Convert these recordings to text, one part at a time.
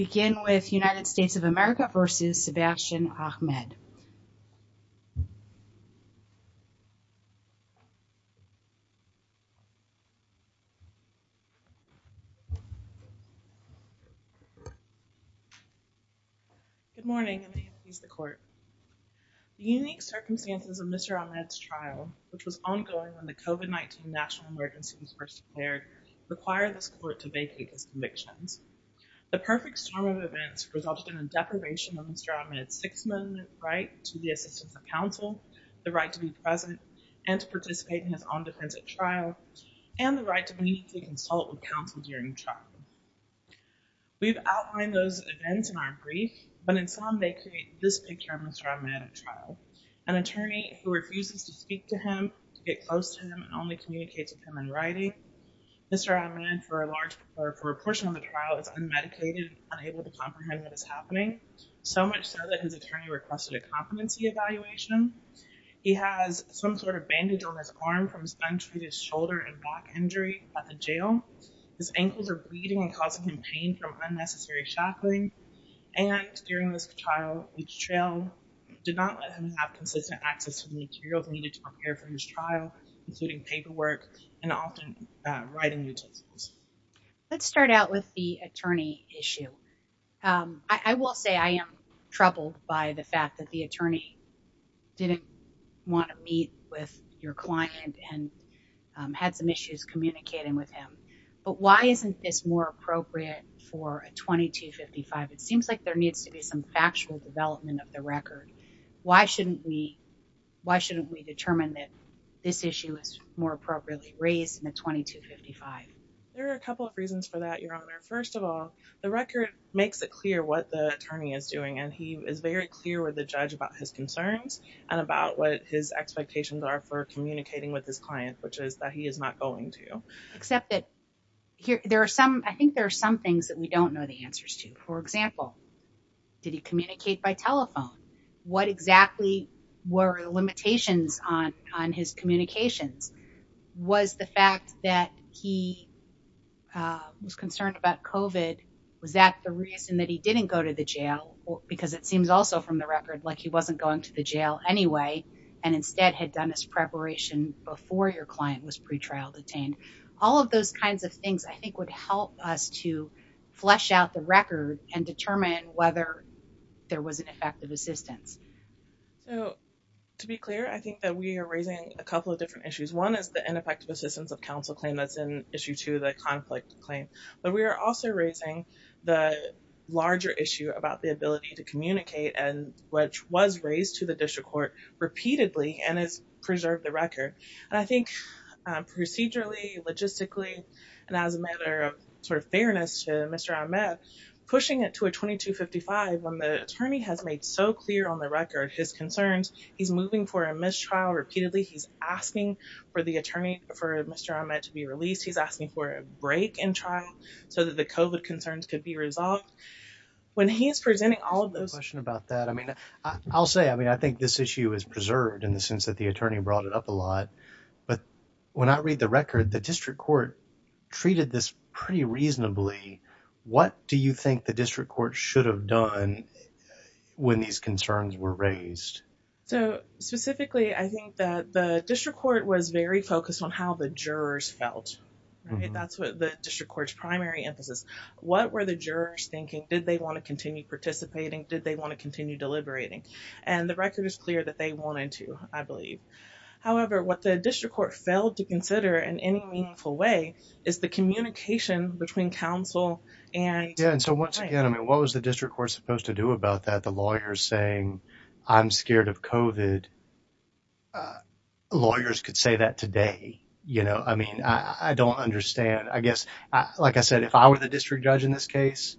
Good morning, and may it please the Court. The unique circumstances of Mr. Ahmed's trial, which was ongoing when the COVID-19 national emergency was first declared, require this conviction. The perfect storm of events resulted in a deprivation of Mr. Ahmed's six-month right to the assistance of counsel, the right to be present and to participate in his own defense at trial, and the right to meet and consult with counsel during trial. We've outlined those events in our brief, but in sum, they create this picture of Mr. Ahmed at trial. An attorney who refuses to speak to him, to get close to him, and only communicates with unmedicated and unable to comprehend what is happening, so much so that his attorney requested a competency evaluation. He has some sort of bandage on his arm from his untreated shoulder and back injury at the jail. His ankles are bleeding and causing him pain from unnecessary shackling. And during this trial, each trial did not let him have consistent access to the materials needed to prepare for his trial, including paperwork and often writing Let's start out with the attorney issue. I will say I am troubled by the fact that the attorney didn't want to meet with your client and had some issues communicating with him. But why isn't this more appropriate for a 2255? It seems like there needs to be some factual development of the record. Why shouldn't we, why shouldn't we determine that this issue is more appropriately raised in a 2255? There are a couple of reasons for that, Your Honor. First of all, the record makes it clear what the attorney is doing, and he is very clear with the judge about his concerns and about what his expectations are for communicating with his client, which is that he is not going to. Except that there are some, I think there are some things that we don't know the answers to. For example, did he communicate by telephone? What exactly were the limitations on his communications? Was the fact that he was concerned about COVID, was that the reason that he didn't go to the jail? Because it seems also from the record like he wasn't going to the jail anyway, and instead had done his preparation before your client was pre-trial detained. All of those kinds of things I think would help us to flesh out the record and determine whether there was an effective assistance. So to be clear, I think that we are raising a couple of different issues. One is the ineffective assistance of counsel claim that's an issue to the conflict claim, but we are also raising the larger issue about the ability to communicate and which was raised to the district court repeatedly and has preserved the record. And I think procedurally, logistically, and as a matter of sort of fairness to Mr. Ahmed, pushing it to a 2255 when the attorney has made so clear on the record, his concerns, he's moving for a mistrial repeatedly. He's asking for the attorney, for Mr. Ahmed to be released. He's asking for a break in trial so that the COVID concerns could be resolved. When he's presenting all of those- The question about that. I mean, I'll say, I mean, I think this issue is preserved in the when I read the record, the district court treated this pretty reasonably. What do you think the district court should have done when these concerns were raised? So specifically, I think that the district court was very focused on how the jurors felt. That's what the district court's primary emphasis. What were the jurors thinking? Did they want to continue participating? Did they want to continue deliberating? And the record is clear that they failed to consider in any meaningful way is the communication between counsel and- Yeah. And so once again, I mean, what was the district court supposed to do about that? The lawyers saying, I'm scared of COVID. Lawyers could say that today. I mean, I don't understand. I guess, like I said, if I were the district judge in this case,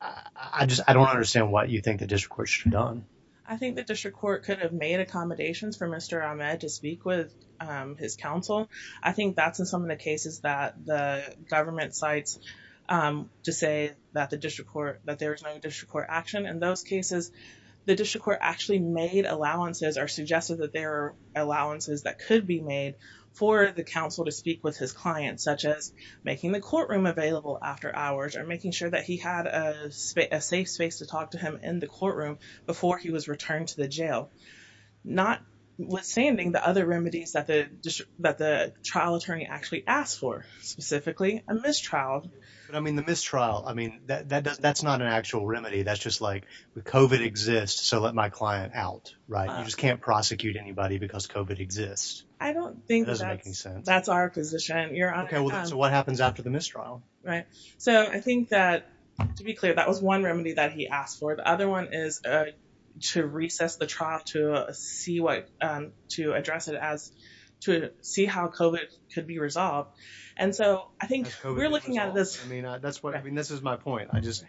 I just, I don't understand what you think the district court should have done. I think the district court could have made accommodations for Mr. Ahmed to speak with his counsel. I think that's in some of the cases that the government cites to say that the district court, that there was no district court action. In those cases, the district court actually made allowances or suggested that there are allowances that could be made for the counsel to speak with his clients, such as making the courtroom available after hours or making sure that he had a safe space to talk to him in the courtroom before he was returned to the jail. Notwithstanding the other remedies that the trial attorney actually asked for, specifically a mistrial. But I mean, the mistrial, I mean, that's not an actual remedy. That's just like, COVID exists, so let my client out, right? You just can't prosecute anybody because COVID exists. I don't think that's- It doesn't make any sense. That's our position, Your Honor. Okay. So what happens after the mistrial? Right. So I think that, to be clear, that was one remedy that he asked for. The other one is to recess the trial to see what, to address it as, to see how COVID could be resolved. And so I think we're looking at this- I mean, that's what, I mean, this is my point. I just,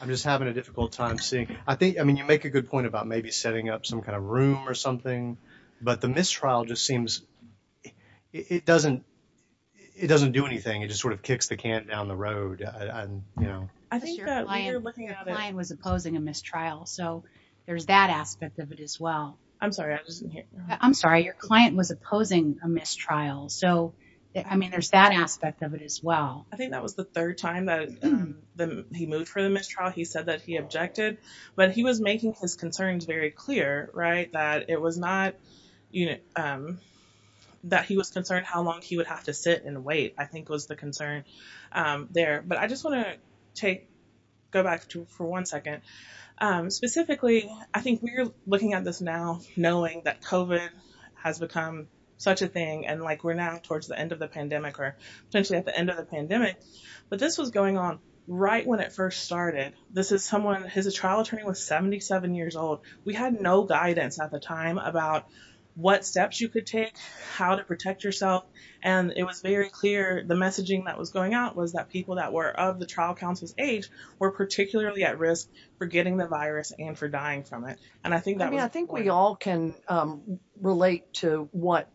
I'm just having a difficult time seeing, I think, I mean, you make a good point about maybe setting up some kind of room or something, but the mistrial just seems, it doesn't, it doesn't do anything. It just sort of kicks the can down the road. And, you know- Your client was opposing a mistrial, so there's that aspect of it as well. I'm sorry. I just didn't hear. I'm sorry. Your client was opposing a mistrial. So, I mean, there's that aspect of it as well. I think that was the third time that he moved for the mistrial. He said that he objected, but he was making his concerns very clear, right? That it was not, that he was concerned how long he would have to sit and wait, I think was the concern there. But I just want to take, go back to, for one second. Specifically, I think we're looking at this now, knowing that COVID has become such a thing. And like, we're now towards the end of the pandemic or potentially at the end of the pandemic, but this was going on right when it first started. This is someone, his trial attorney was 77 years old. We had no guidance at the time about what steps you could take, how to protect yourself. And it was very clear, the messaging that was going out was that people that were of the trial counsel's age were particularly at risk for getting the virus and for dying from it. And I think that was- I mean, I think we all can relate to what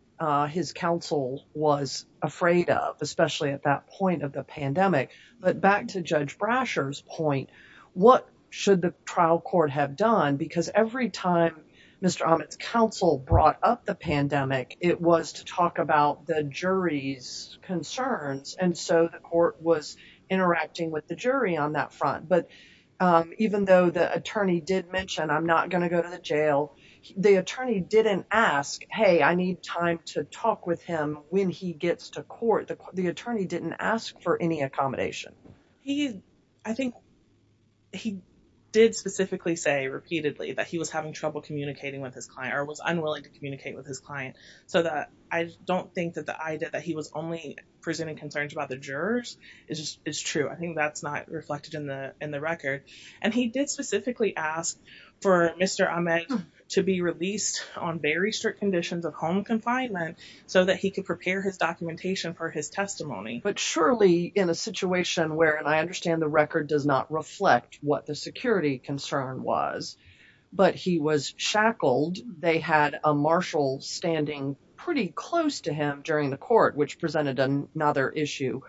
his counsel was afraid of, especially at that point of the pandemic. But back to Judge Brasher's point, what should the trial court have done? Because every time Mr. Ahmed's counsel brought up the pandemic, it was to talk about the jury's and so the court was interacting with the jury on that front. But even though the attorney did mention, I'm not going to go to the jail, the attorney didn't ask, hey, I need time to talk with him when he gets to court. The attorney didn't ask for any accommodation. He, I think he did specifically say repeatedly that he was having trouble communicating with his client or was unwilling to communicate with his client. So that I don't think that the idea he was only presenting concerns about the jurors is true. I think that's not reflected in the record. And he did specifically ask for Mr. Ahmed to be released on very strict conditions of home confinement so that he could prepare his documentation for his testimony. But surely in a situation where, and I understand the record does not reflect what the security concern was, but he was shackled, they had a marshal standing pretty close to him during the court, which presented another issue.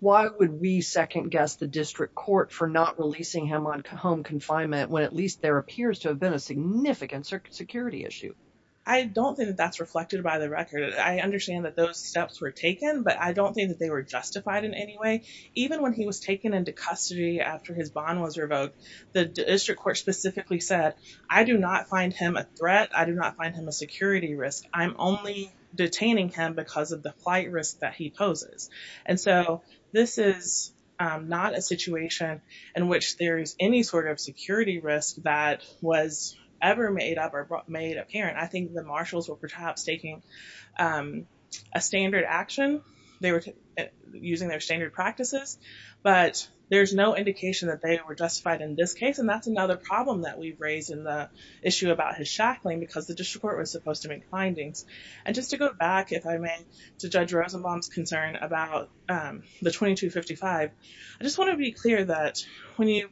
Why would we second guess the district court for not releasing him on home confinement when at least there appears to have been a significant security issue? I don't think that's reflected by the record. I understand that those steps were taken, but I don't think that they were justified in any way. Even when he was taken into custody after his bond was revoked, the district court specifically said, I do not find him a threat. I do not find him a security risk. I'm only detaining him because of the flight risk that he poses. And so this is not a situation in which there is any sort of security risk that was ever made up or made apparent. I think the marshals were perhaps taking a standard action. They were using their standard practices, but there's no indication that they were justified in this case. That's another problem that we've raised in the issue about his shackling because the district court was supposed to make findings. And just to go back, if I may, to Judge Rosenbaum's concern about the 2255, I just want to be clear that when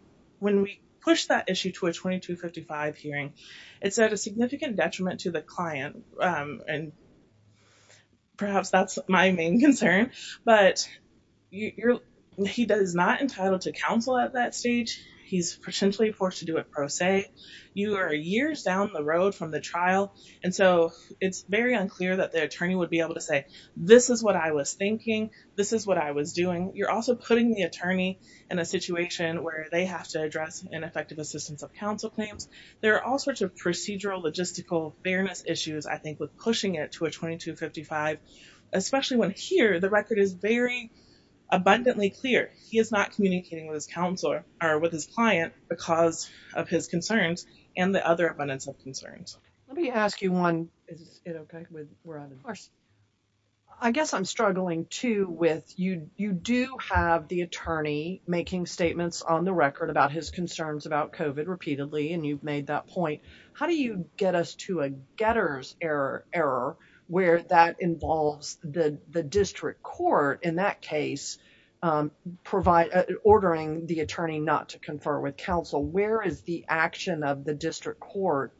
we push that issue to a 2255 hearing, it's at a significant detriment to the client. And perhaps that's my main concern, but you're, he does not entitle to counsel at that stage. He's potentially forced to do it pro se. You are years down the road from the trial. And so it's very unclear that the attorney would be able to say, this is what I was thinking. This is what I was doing. You're also putting the attorney in a situation where they have to address ineffective assistance of counsel claims. There are all sorts of procedural, logistical fairness issues, I think, with pushing it to a 2255 hearing. So I just want to be abundantly clear, he is not communicating with his counselor or with his client because of his concerns and the other abundance of concerns. Let me ask you one. Is it okay? I guess I'm struggling too with, you do have the attorney making statements on the record about his concerns about COVID repeatedly, and you've made that point. How do you get us to a district court, in that case, ordering the attorney not to confer with counsel? Where is the action of the district court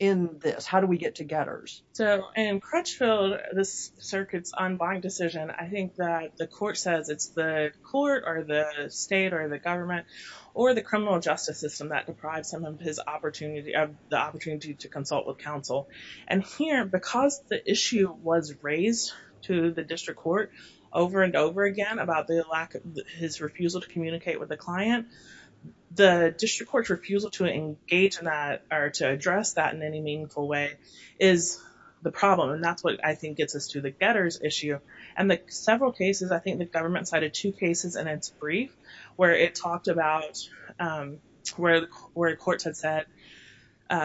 in this? How do we get to getters? So in Crutchfield, this circuit's unbind decision, I think that the court says it's the court or the state or the government or the criminal justice system that deprives him of the opportunity to consult with counsel. And here, because the issue was raised to the district court over and over again about the lack of his refusal to communicate with the client, the district court's refusal to engage in that or to address that in any meaningful way is the problem. And that's what I think gets us to the getters issue. And the several cases, I think the government cited two cases in its brief, where it talked about, where courts had said,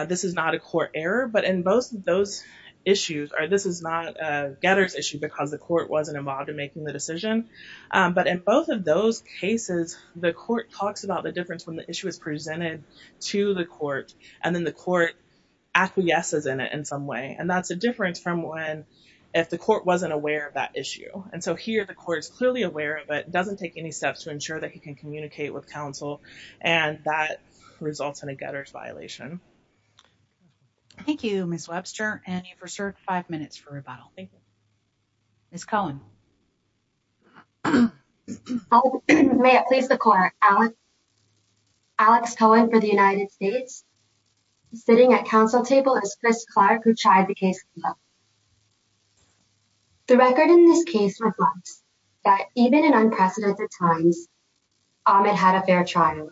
this is not a court error, but in both of those issues, or this is not a getters issue, because the court wasn't involved in making the decision. But in both of those cases, the court talks about the difference when the issue is presented to the court, and then the court acquiesces in it in some way. And that's a difference from when, if the court wasn't aware of that issue. And so here, the court is clearly aware of it, doesn't take any steps to ensure that he can communicate with counsel, and that results in a getters violation. Thank you, Ms. Webster. And you've reserved five minutes for rebuttal. Ms. Cohen. May it please the court, Alex Cohen for the United States, sitting at counsel table is Chris Clark, who tried the case. The record in this case reflects that even in unprecedented times, Ahmed had a fair trial.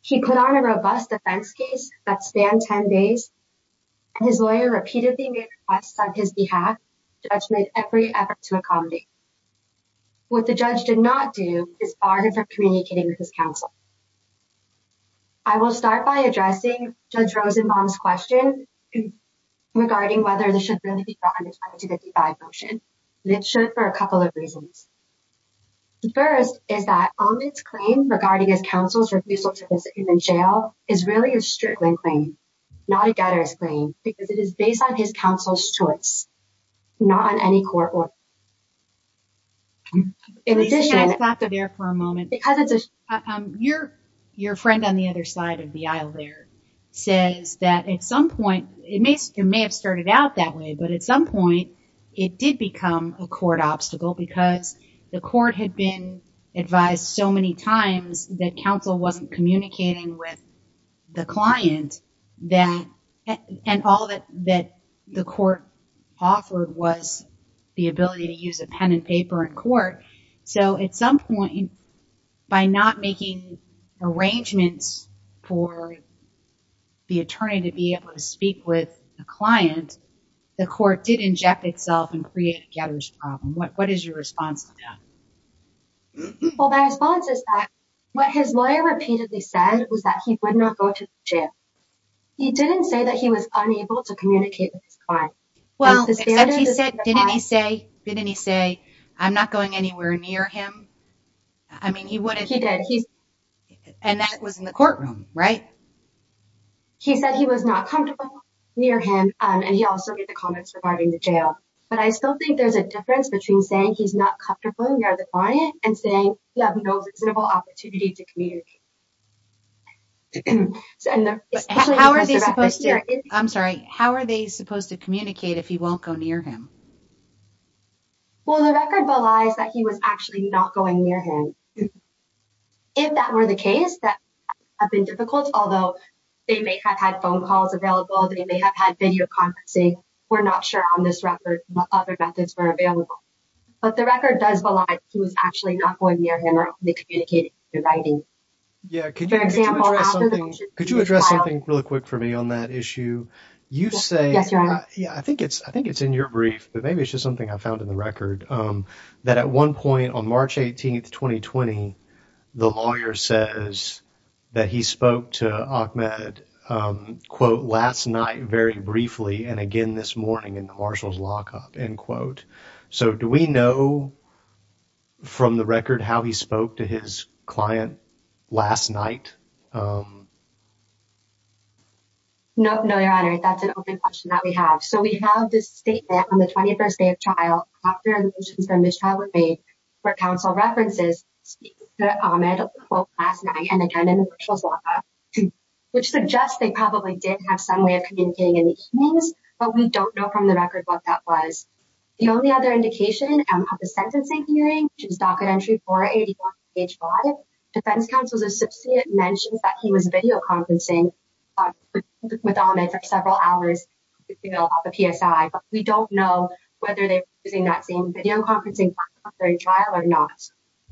He put on a robust defense case that spanned 10 days, and his lawyer repeatedly made requests on his behalf. Judge made every effort to accommodate. What the judge did not do is bar him from communicating with his counsel. I will start by addressing Judge Rosenbaum's question regarding whether this should really be brought under the 255 motion. It should for a couple of reasons. First, is that Ahmed's claim regarding his counsel's refusal to visit him in jail is really a strickling claim, not a getter's claim, because it is based on his counsel's choice, not on any court order. In addition- Your friend on the other side of the aisle there says that at some point, it may have started out that way, but at some point, it did become a court obstacle because the court had been advised so many times that counsel wasn't communicating with the client, and all that the court offered was the ability to use a pen and paper in court. So at some point, by not making arrangements for the attorney to be able to speak with the client, the court did inject itself and create a getter's problem. What is your response to that? Well, my response is that what his lawyer repeatedly said was that he would not go to jail. He didn't say that he was unable to communicate with his client. Well, except he said, didn't he say, didn't he say, I'm not going anywhere near him? I mean, he would have- He did. And that was in the courtroom, right? He said he was not comfortable near him, and he also made the comments regarding the jail. But I still think there's a difference between saying he's not comfortable near the client and saying you have no reasonable opportunity to if he won't go near him. Well, the record belies that he was actually not going near him. If that were the case, that would have been difficult, although they may have had phone calls available, they may have had video conferencing. We're not sure on this record what other methods were available. But the record does belied he was actually not going near him or they communicated in writing. Yeah, could you address something really quick for me on that Yeah, I think it's, I think it's in your brief, but maybe it's just something I found in the record that at one point on March 18th, 2020, the lawyer says that he spoke to Ahmed, quote, last night, very briefly, and again this morning in the marshal's lockup, end quote. So do we know from the record how he spoke to his client last night? Um, no, no, your honor, that's an open question that we have. So we have this statement on the 21st day of trial, after the motions for mistrial were made, where counsel references speaking to Ahmed, quote, last night, and again in the marshal's lockup, which suggests they probably did have some way of communicating in the evenings, but we don't know from the record what that was. The only other indication of the sentencing hearing, which is docket entry 481, defense counsel's associate mentions that he was videoconferencing with Ahmed for several hours, you know, off the PSI, but we don't know whether they were using that same videoconferencing platform during trial or not.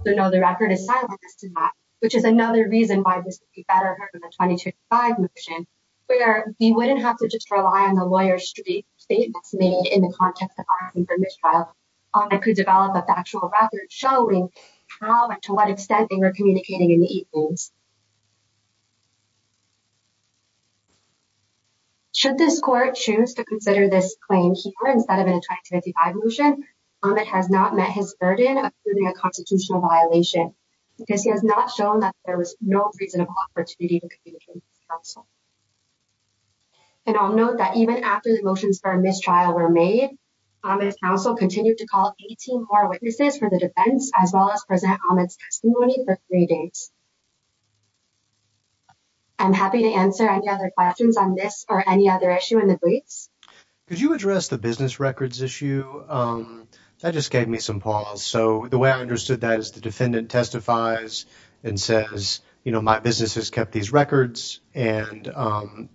So no, the record is silenced in that, which is another reason why this would be better heard in the 2022-25 motion, where he wouldn't have to just rely on the lawyer's statements made in the context of asking for mistrial. Ahmed could develop a factual record showing how and to what extent they were communicating in the evenings. Should this court choose to consider this claim here instead of in a 2025 motion, Ahmed has not met his burden of proving a constitutional violation, because he has not shown that there was no reasonable opportunity to communicate with counsel. And I'll note that even after the motions for mistrial were made, Ahmed's counsel continued to call 18 more witnesses for the defense, as well as present Ahmed's testimony for three days. I'm happy to answer any other questions on this or any other issue in the briefs. Could you address the business records issue? That just gave me some pause. So the way I understood that is the defendant testifies and says, you know, my business has kept these records and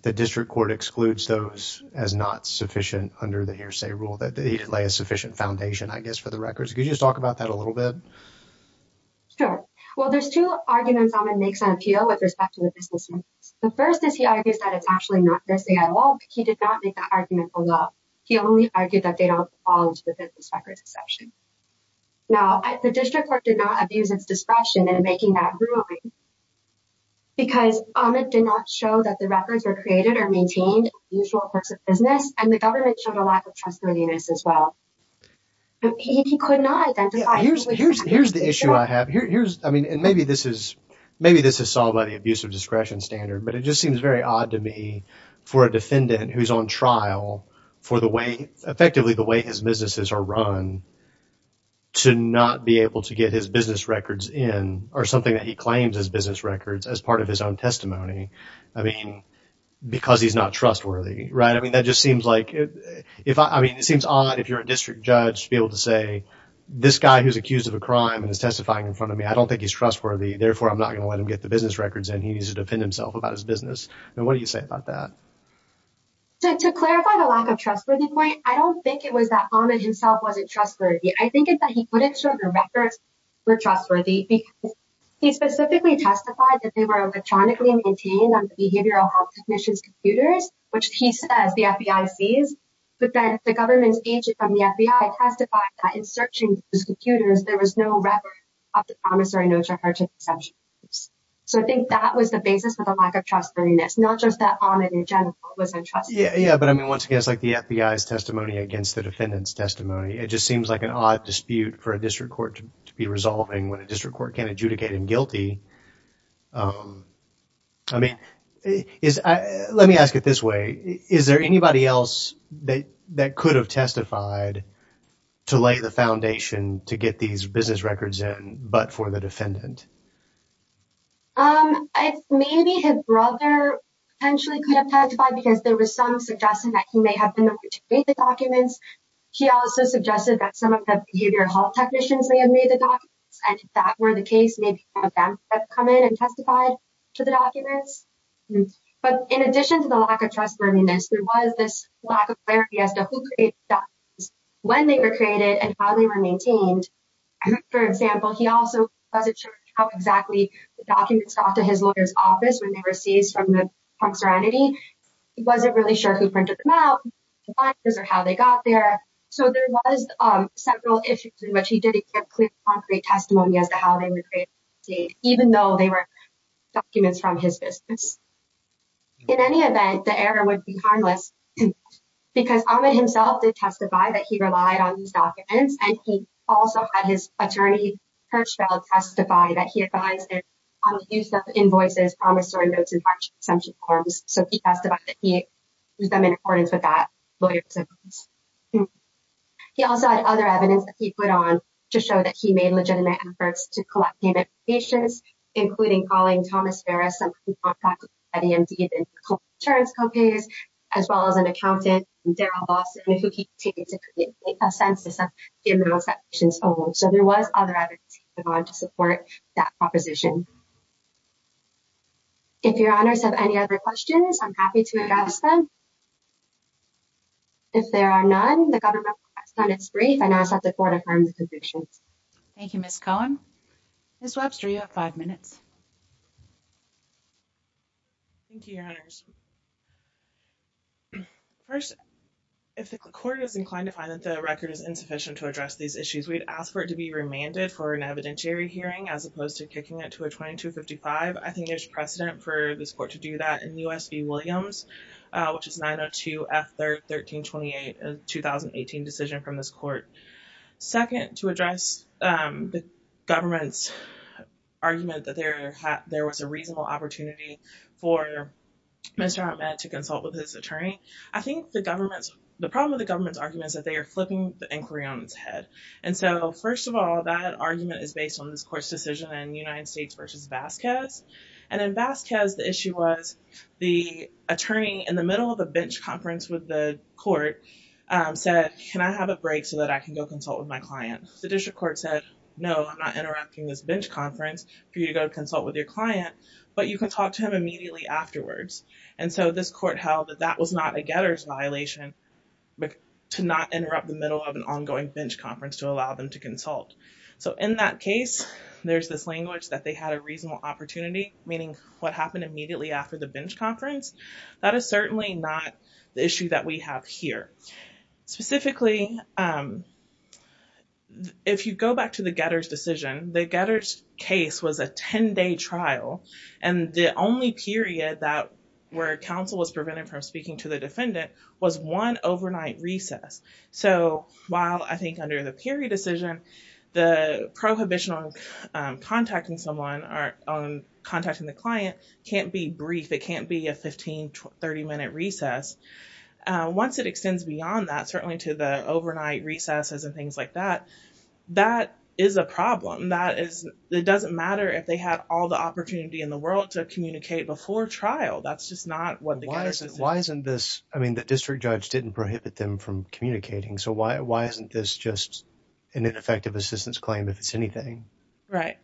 the district court excludes those as not sufficient under the hearsay rule that they lay a sufficient foundation, I guess, for the records. Could you just talk about that a little bit? Sure. Well, there's two arguments Ahmed makes on appeal with respect to the business records. The first is he argues that it's actually not this thing at all. He did not make that argument alone. He only argued that they don't fall into the business records exception. Now, the district court did not abuse its discretion in making that ruling, because Ahmed did not show that the records were created or maintained in the usual course of business, and the government showed a lack of trustworthiness as well. But he could not identify. Here's the issue I have. Here's, I mean, and maybe this is solved by the abuse of discretion standard, but it just seems very odd to me for a defendant who's on trial for the way, effectively, the way his businesses are run to not be able to get his business records in or something that he claims as business records as part of his own testimony. I mean, because he's not trustworthy, right? I mean, that just seems like if I mean, it seems odd if you're a district judge to be able to say this guy who's accused of a crime and is testifying in front of me, I don't think he's trustworthy. Therefore, I'm not going to let him get the business records and he needs to defend himself about his business. And what do you say about that? To clarify the lack of trustworthy point, I don't think it was that Ahmed himself wasn't trustworthy. I think it's that he couldn't show the records were trustworthy because he specifically testified that they were electronically maintained on the Behavioral Health Commission's computers, which he says the FBI sees, but then the government's agent from the FBI testified that in searching those computers, there was no record of the promissory notes referring to the assumptions. So I think that was the basis for the lack of trustworthiness, not just that Ahmed in general was untrustworthy. Yeah, but I mean, once again, it's like the FBI's testimony against the defendant's testimony. It just seems like an odd dispute for a district court to be resolving when a district court can't adjudicate him guilty. I mean, let me ask it this way. Is there anybody else that could have testified to lay the foundation to get these business records in but for the defendant? Maybe his brother potentially could have testified because there was some suggestion that he may have been able to read the documents. He also suggested that some of the behavioral health technicians may have made the documents and if that were the case, maybe some of them have come in and testified to the documents. But in addition to the lack of trustworthiness, there was this lack of clarity as to who created the documents, when they were created, and how they were maintained. For example, he also wasn't sure how exactly the documents got to his lawyer's office when they were seized from the punk He wasn't really sure who printed them out or how they got there. So there was several issues in which he didn't give clear, concrete testimony as to how they were created, even though they were documents from his business. In any event, the error would be harmless because Ahmed himself did testify that he relied on these documents and he also had his attorney, Hirschfeld, testify that he advised him on the use of invoices, promissory notes, and hardship exemption forms. He also had other evidence that he put on to show that he made legitimate efforts to collect payment from patients, including calling Thomas Ferris, somebody who contacted him at EMD, the insurance co-payers, as well as an accountant, Daryl Lawson, who he took to create a census of the amounts that proposition. If your honors have any other questions, I'm happy to address them. If there are none, the government is brief and ask that the court affirms the conclusions. Thank you, Ms. Cohen. Ms. Webster, you have five minutes. Thank you, your honors. First, if the court is inclined to find that the record is insufficient to address these issues, we'd ask for it to be remanded for an evidentiary hearing as opposed to kicking it to a 2255. I think there's precedent for this court to do that in U.S. v. Williams, which is 902 F 1328, a 2018 decision from this court. Second, to address the government's argument that there was a reasonable opportunity for Mr. Ahmed to consult with his attorney, I think the problem with the government's argument is that they are flipping the inquiry on its head. First of all, that argument is based on this court's decision in United States v. Vasquez. In Vasquez, the issue was the attorney in the middle of a bench conference with the court said, can I have a break so that I can go consult with my client? The district court said, no, I'm not interrupting this bench conference for you to go consult with your client, but you can talk to him immediately afterwards. This court held that was not a getter's violation to not interrupt the middle of an ongoing bench conference to allow them to consult. In that case, there's this language that they had a reasonable opportunity, meaning what happened immediately after the bench conference. That is certainly not the issue that we have here. Specifically, if you go back to the getter's decision, the getter's case was a 10-day trial. The only period where counsel was prevented from speaking to the defendant was one overnight recess. While I think under the period decision, the prohibition on contacting someone or on contacting the client can't be brief, it can't be a 15, 30-minute recess. Once it extends beyond that, certainly to the overnight recesses and things like that, that is a problem. It doesn't matter if they had all the opportunity in the world to communicate before trial. That's just not what the getter's decision is. Why isn't this, I mean, the district judge didn't prohibit them from communicating, so why isn't this just an ineffective assistance claim if it's anything? Right.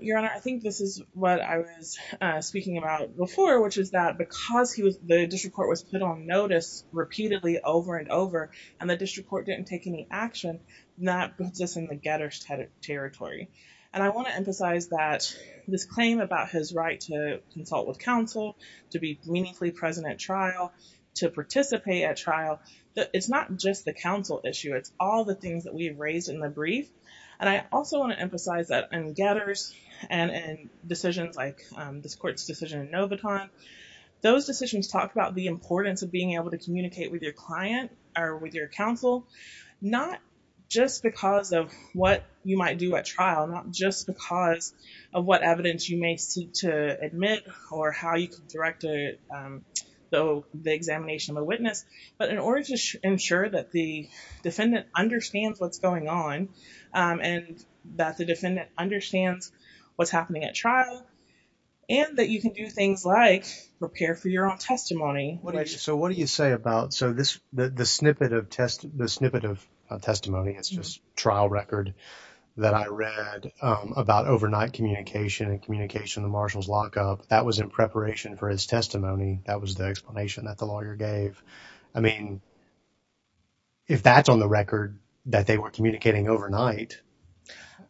Your Honor, I think this is what I was speaking about before, which is that because the district court was put on notice repeatedly over and over, and the district court didn't take any action, that puts us in the getter's territory. I want to emphasize that this claim about his right to consult with counsel, to be meaningfully present at trial, to participate at trial, it's not just the counsel issue. It's all the things that we have raised in the brief. I also want to emphasize that in getters and in decisions like this court's decision in Noviton, those decisions talk about the importance of being able to consult with your counsel, not just because of what you might do at trial, not just because of what evidence you may seek to admit or how you can direct the examination of a witness, but in order to ensure that the defendant understands what's going on and that the defendant understands what's happening at trial and that you can do things like prepare for your testimony. So what do you say about, so this, the snippet of testimony, it's just trial record that I read about overnight communication and communication in the marshal's lockup, that was in preparation for his testimony. That was the explanation that the lawyer gave. I mean, if that's on the record that they were communicating overnight.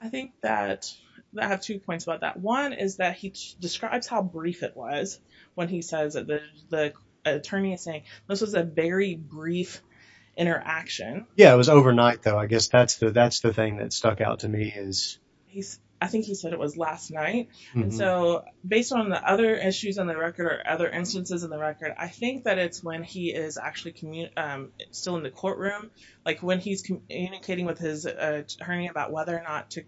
I think that, I have two points about that. One is that he describes how brief it was when he says that the attorney is saying, this was a very brief interaction. Yeah, it was overnight though. I guess that's the thing that stuck out to me. I think he said it was last night. And so based on the other issues on the record or other instances in the record, I think that it's when he is actually still in the courtroom, like when he's communicating with his attorney about whether or not to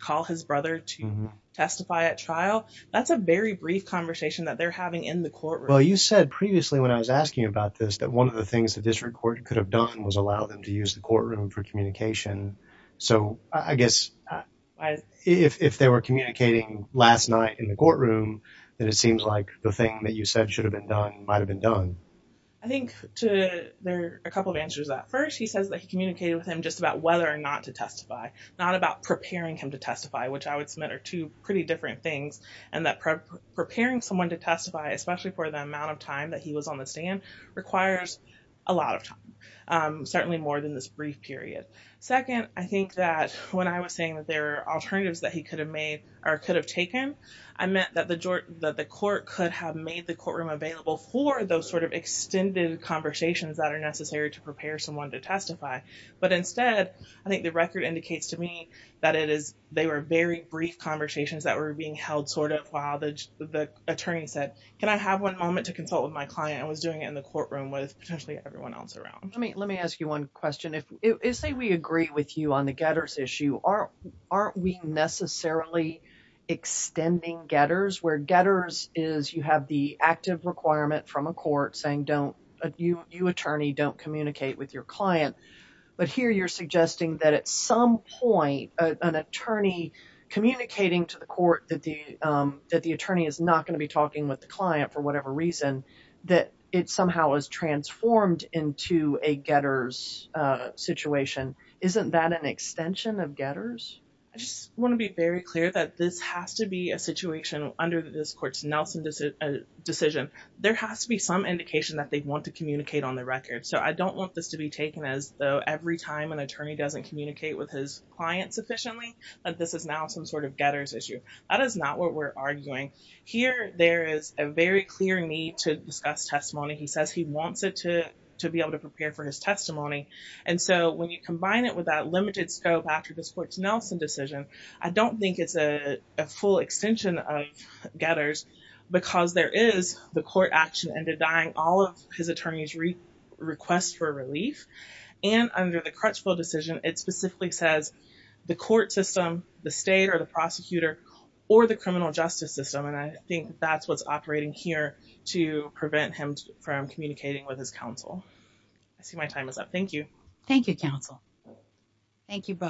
call his brother to testify at trial, that's a very brief conversation that they're having in the courtroom. Well, you said previously when I was asking you about this, that one of the things that this record could have done was allow them to use the courtroom for communication. So I guess if they were communicating last night in the courtroom, then it seems like the thing that you said should have been done, might've been done. I think there are a couple of answers at first. He says that he communicated with him just about whether or not to testify, not about preparing him to testify, which I would submit are two pretty different things. And that preparing someone to testify, especially for the amount of time that he was on the stand, requires a lot of time, certainly more than this brief period. Second, I think that when I was saying that there are alternatives that he could have made or could have taken, I meant that the court could have made the courtroom available for those sort of extended conversations that are necessary to prepare someone to testify. But instead, I think the record indicates to me that they were very brief conversations that were being held sort of while the attorney said, can I have one moment to consult with my client? I was doing it in the courtroom with potentially everyone else around. Let me ask you one question. Say we agree with you on the getters issue. Aren't we necessarily extending getters where getters is you have the active requirement from a court saying you attorney don't communicate with your that at some point an attorney communicating to the court that the attorney is not going to be talking with the client for whatever reason, that it somehow is transformed into a getters situation. Isn't that an extension of getters? I just want to be very clear that this has to be a situation under this court's Nelson decision. There has to be some indication that they want to communicate on the record. So I don't want this to be taken as though every time an attorney doesn't communicate with his client sufficiently, that this is now some sort of getters issue. That is not what we're arguing. Here, there is a very clear need to discuss testimony. He says he wants it to be able to prepare for his testimony. And so when you combine it with that limited scope after this court's Nelson decision, I don't think it's a full extension of getters because there is the court action and denying all of his attorney's request for relief. And under the Crutchfield decision, it specifically says the court system, the state, or the prosecutor, or the criminal justice system. And I think that's what's operating here to prevent him from communicating with his counsel. I see my time is up. Thank you. Thank you, counsel. Thank you both.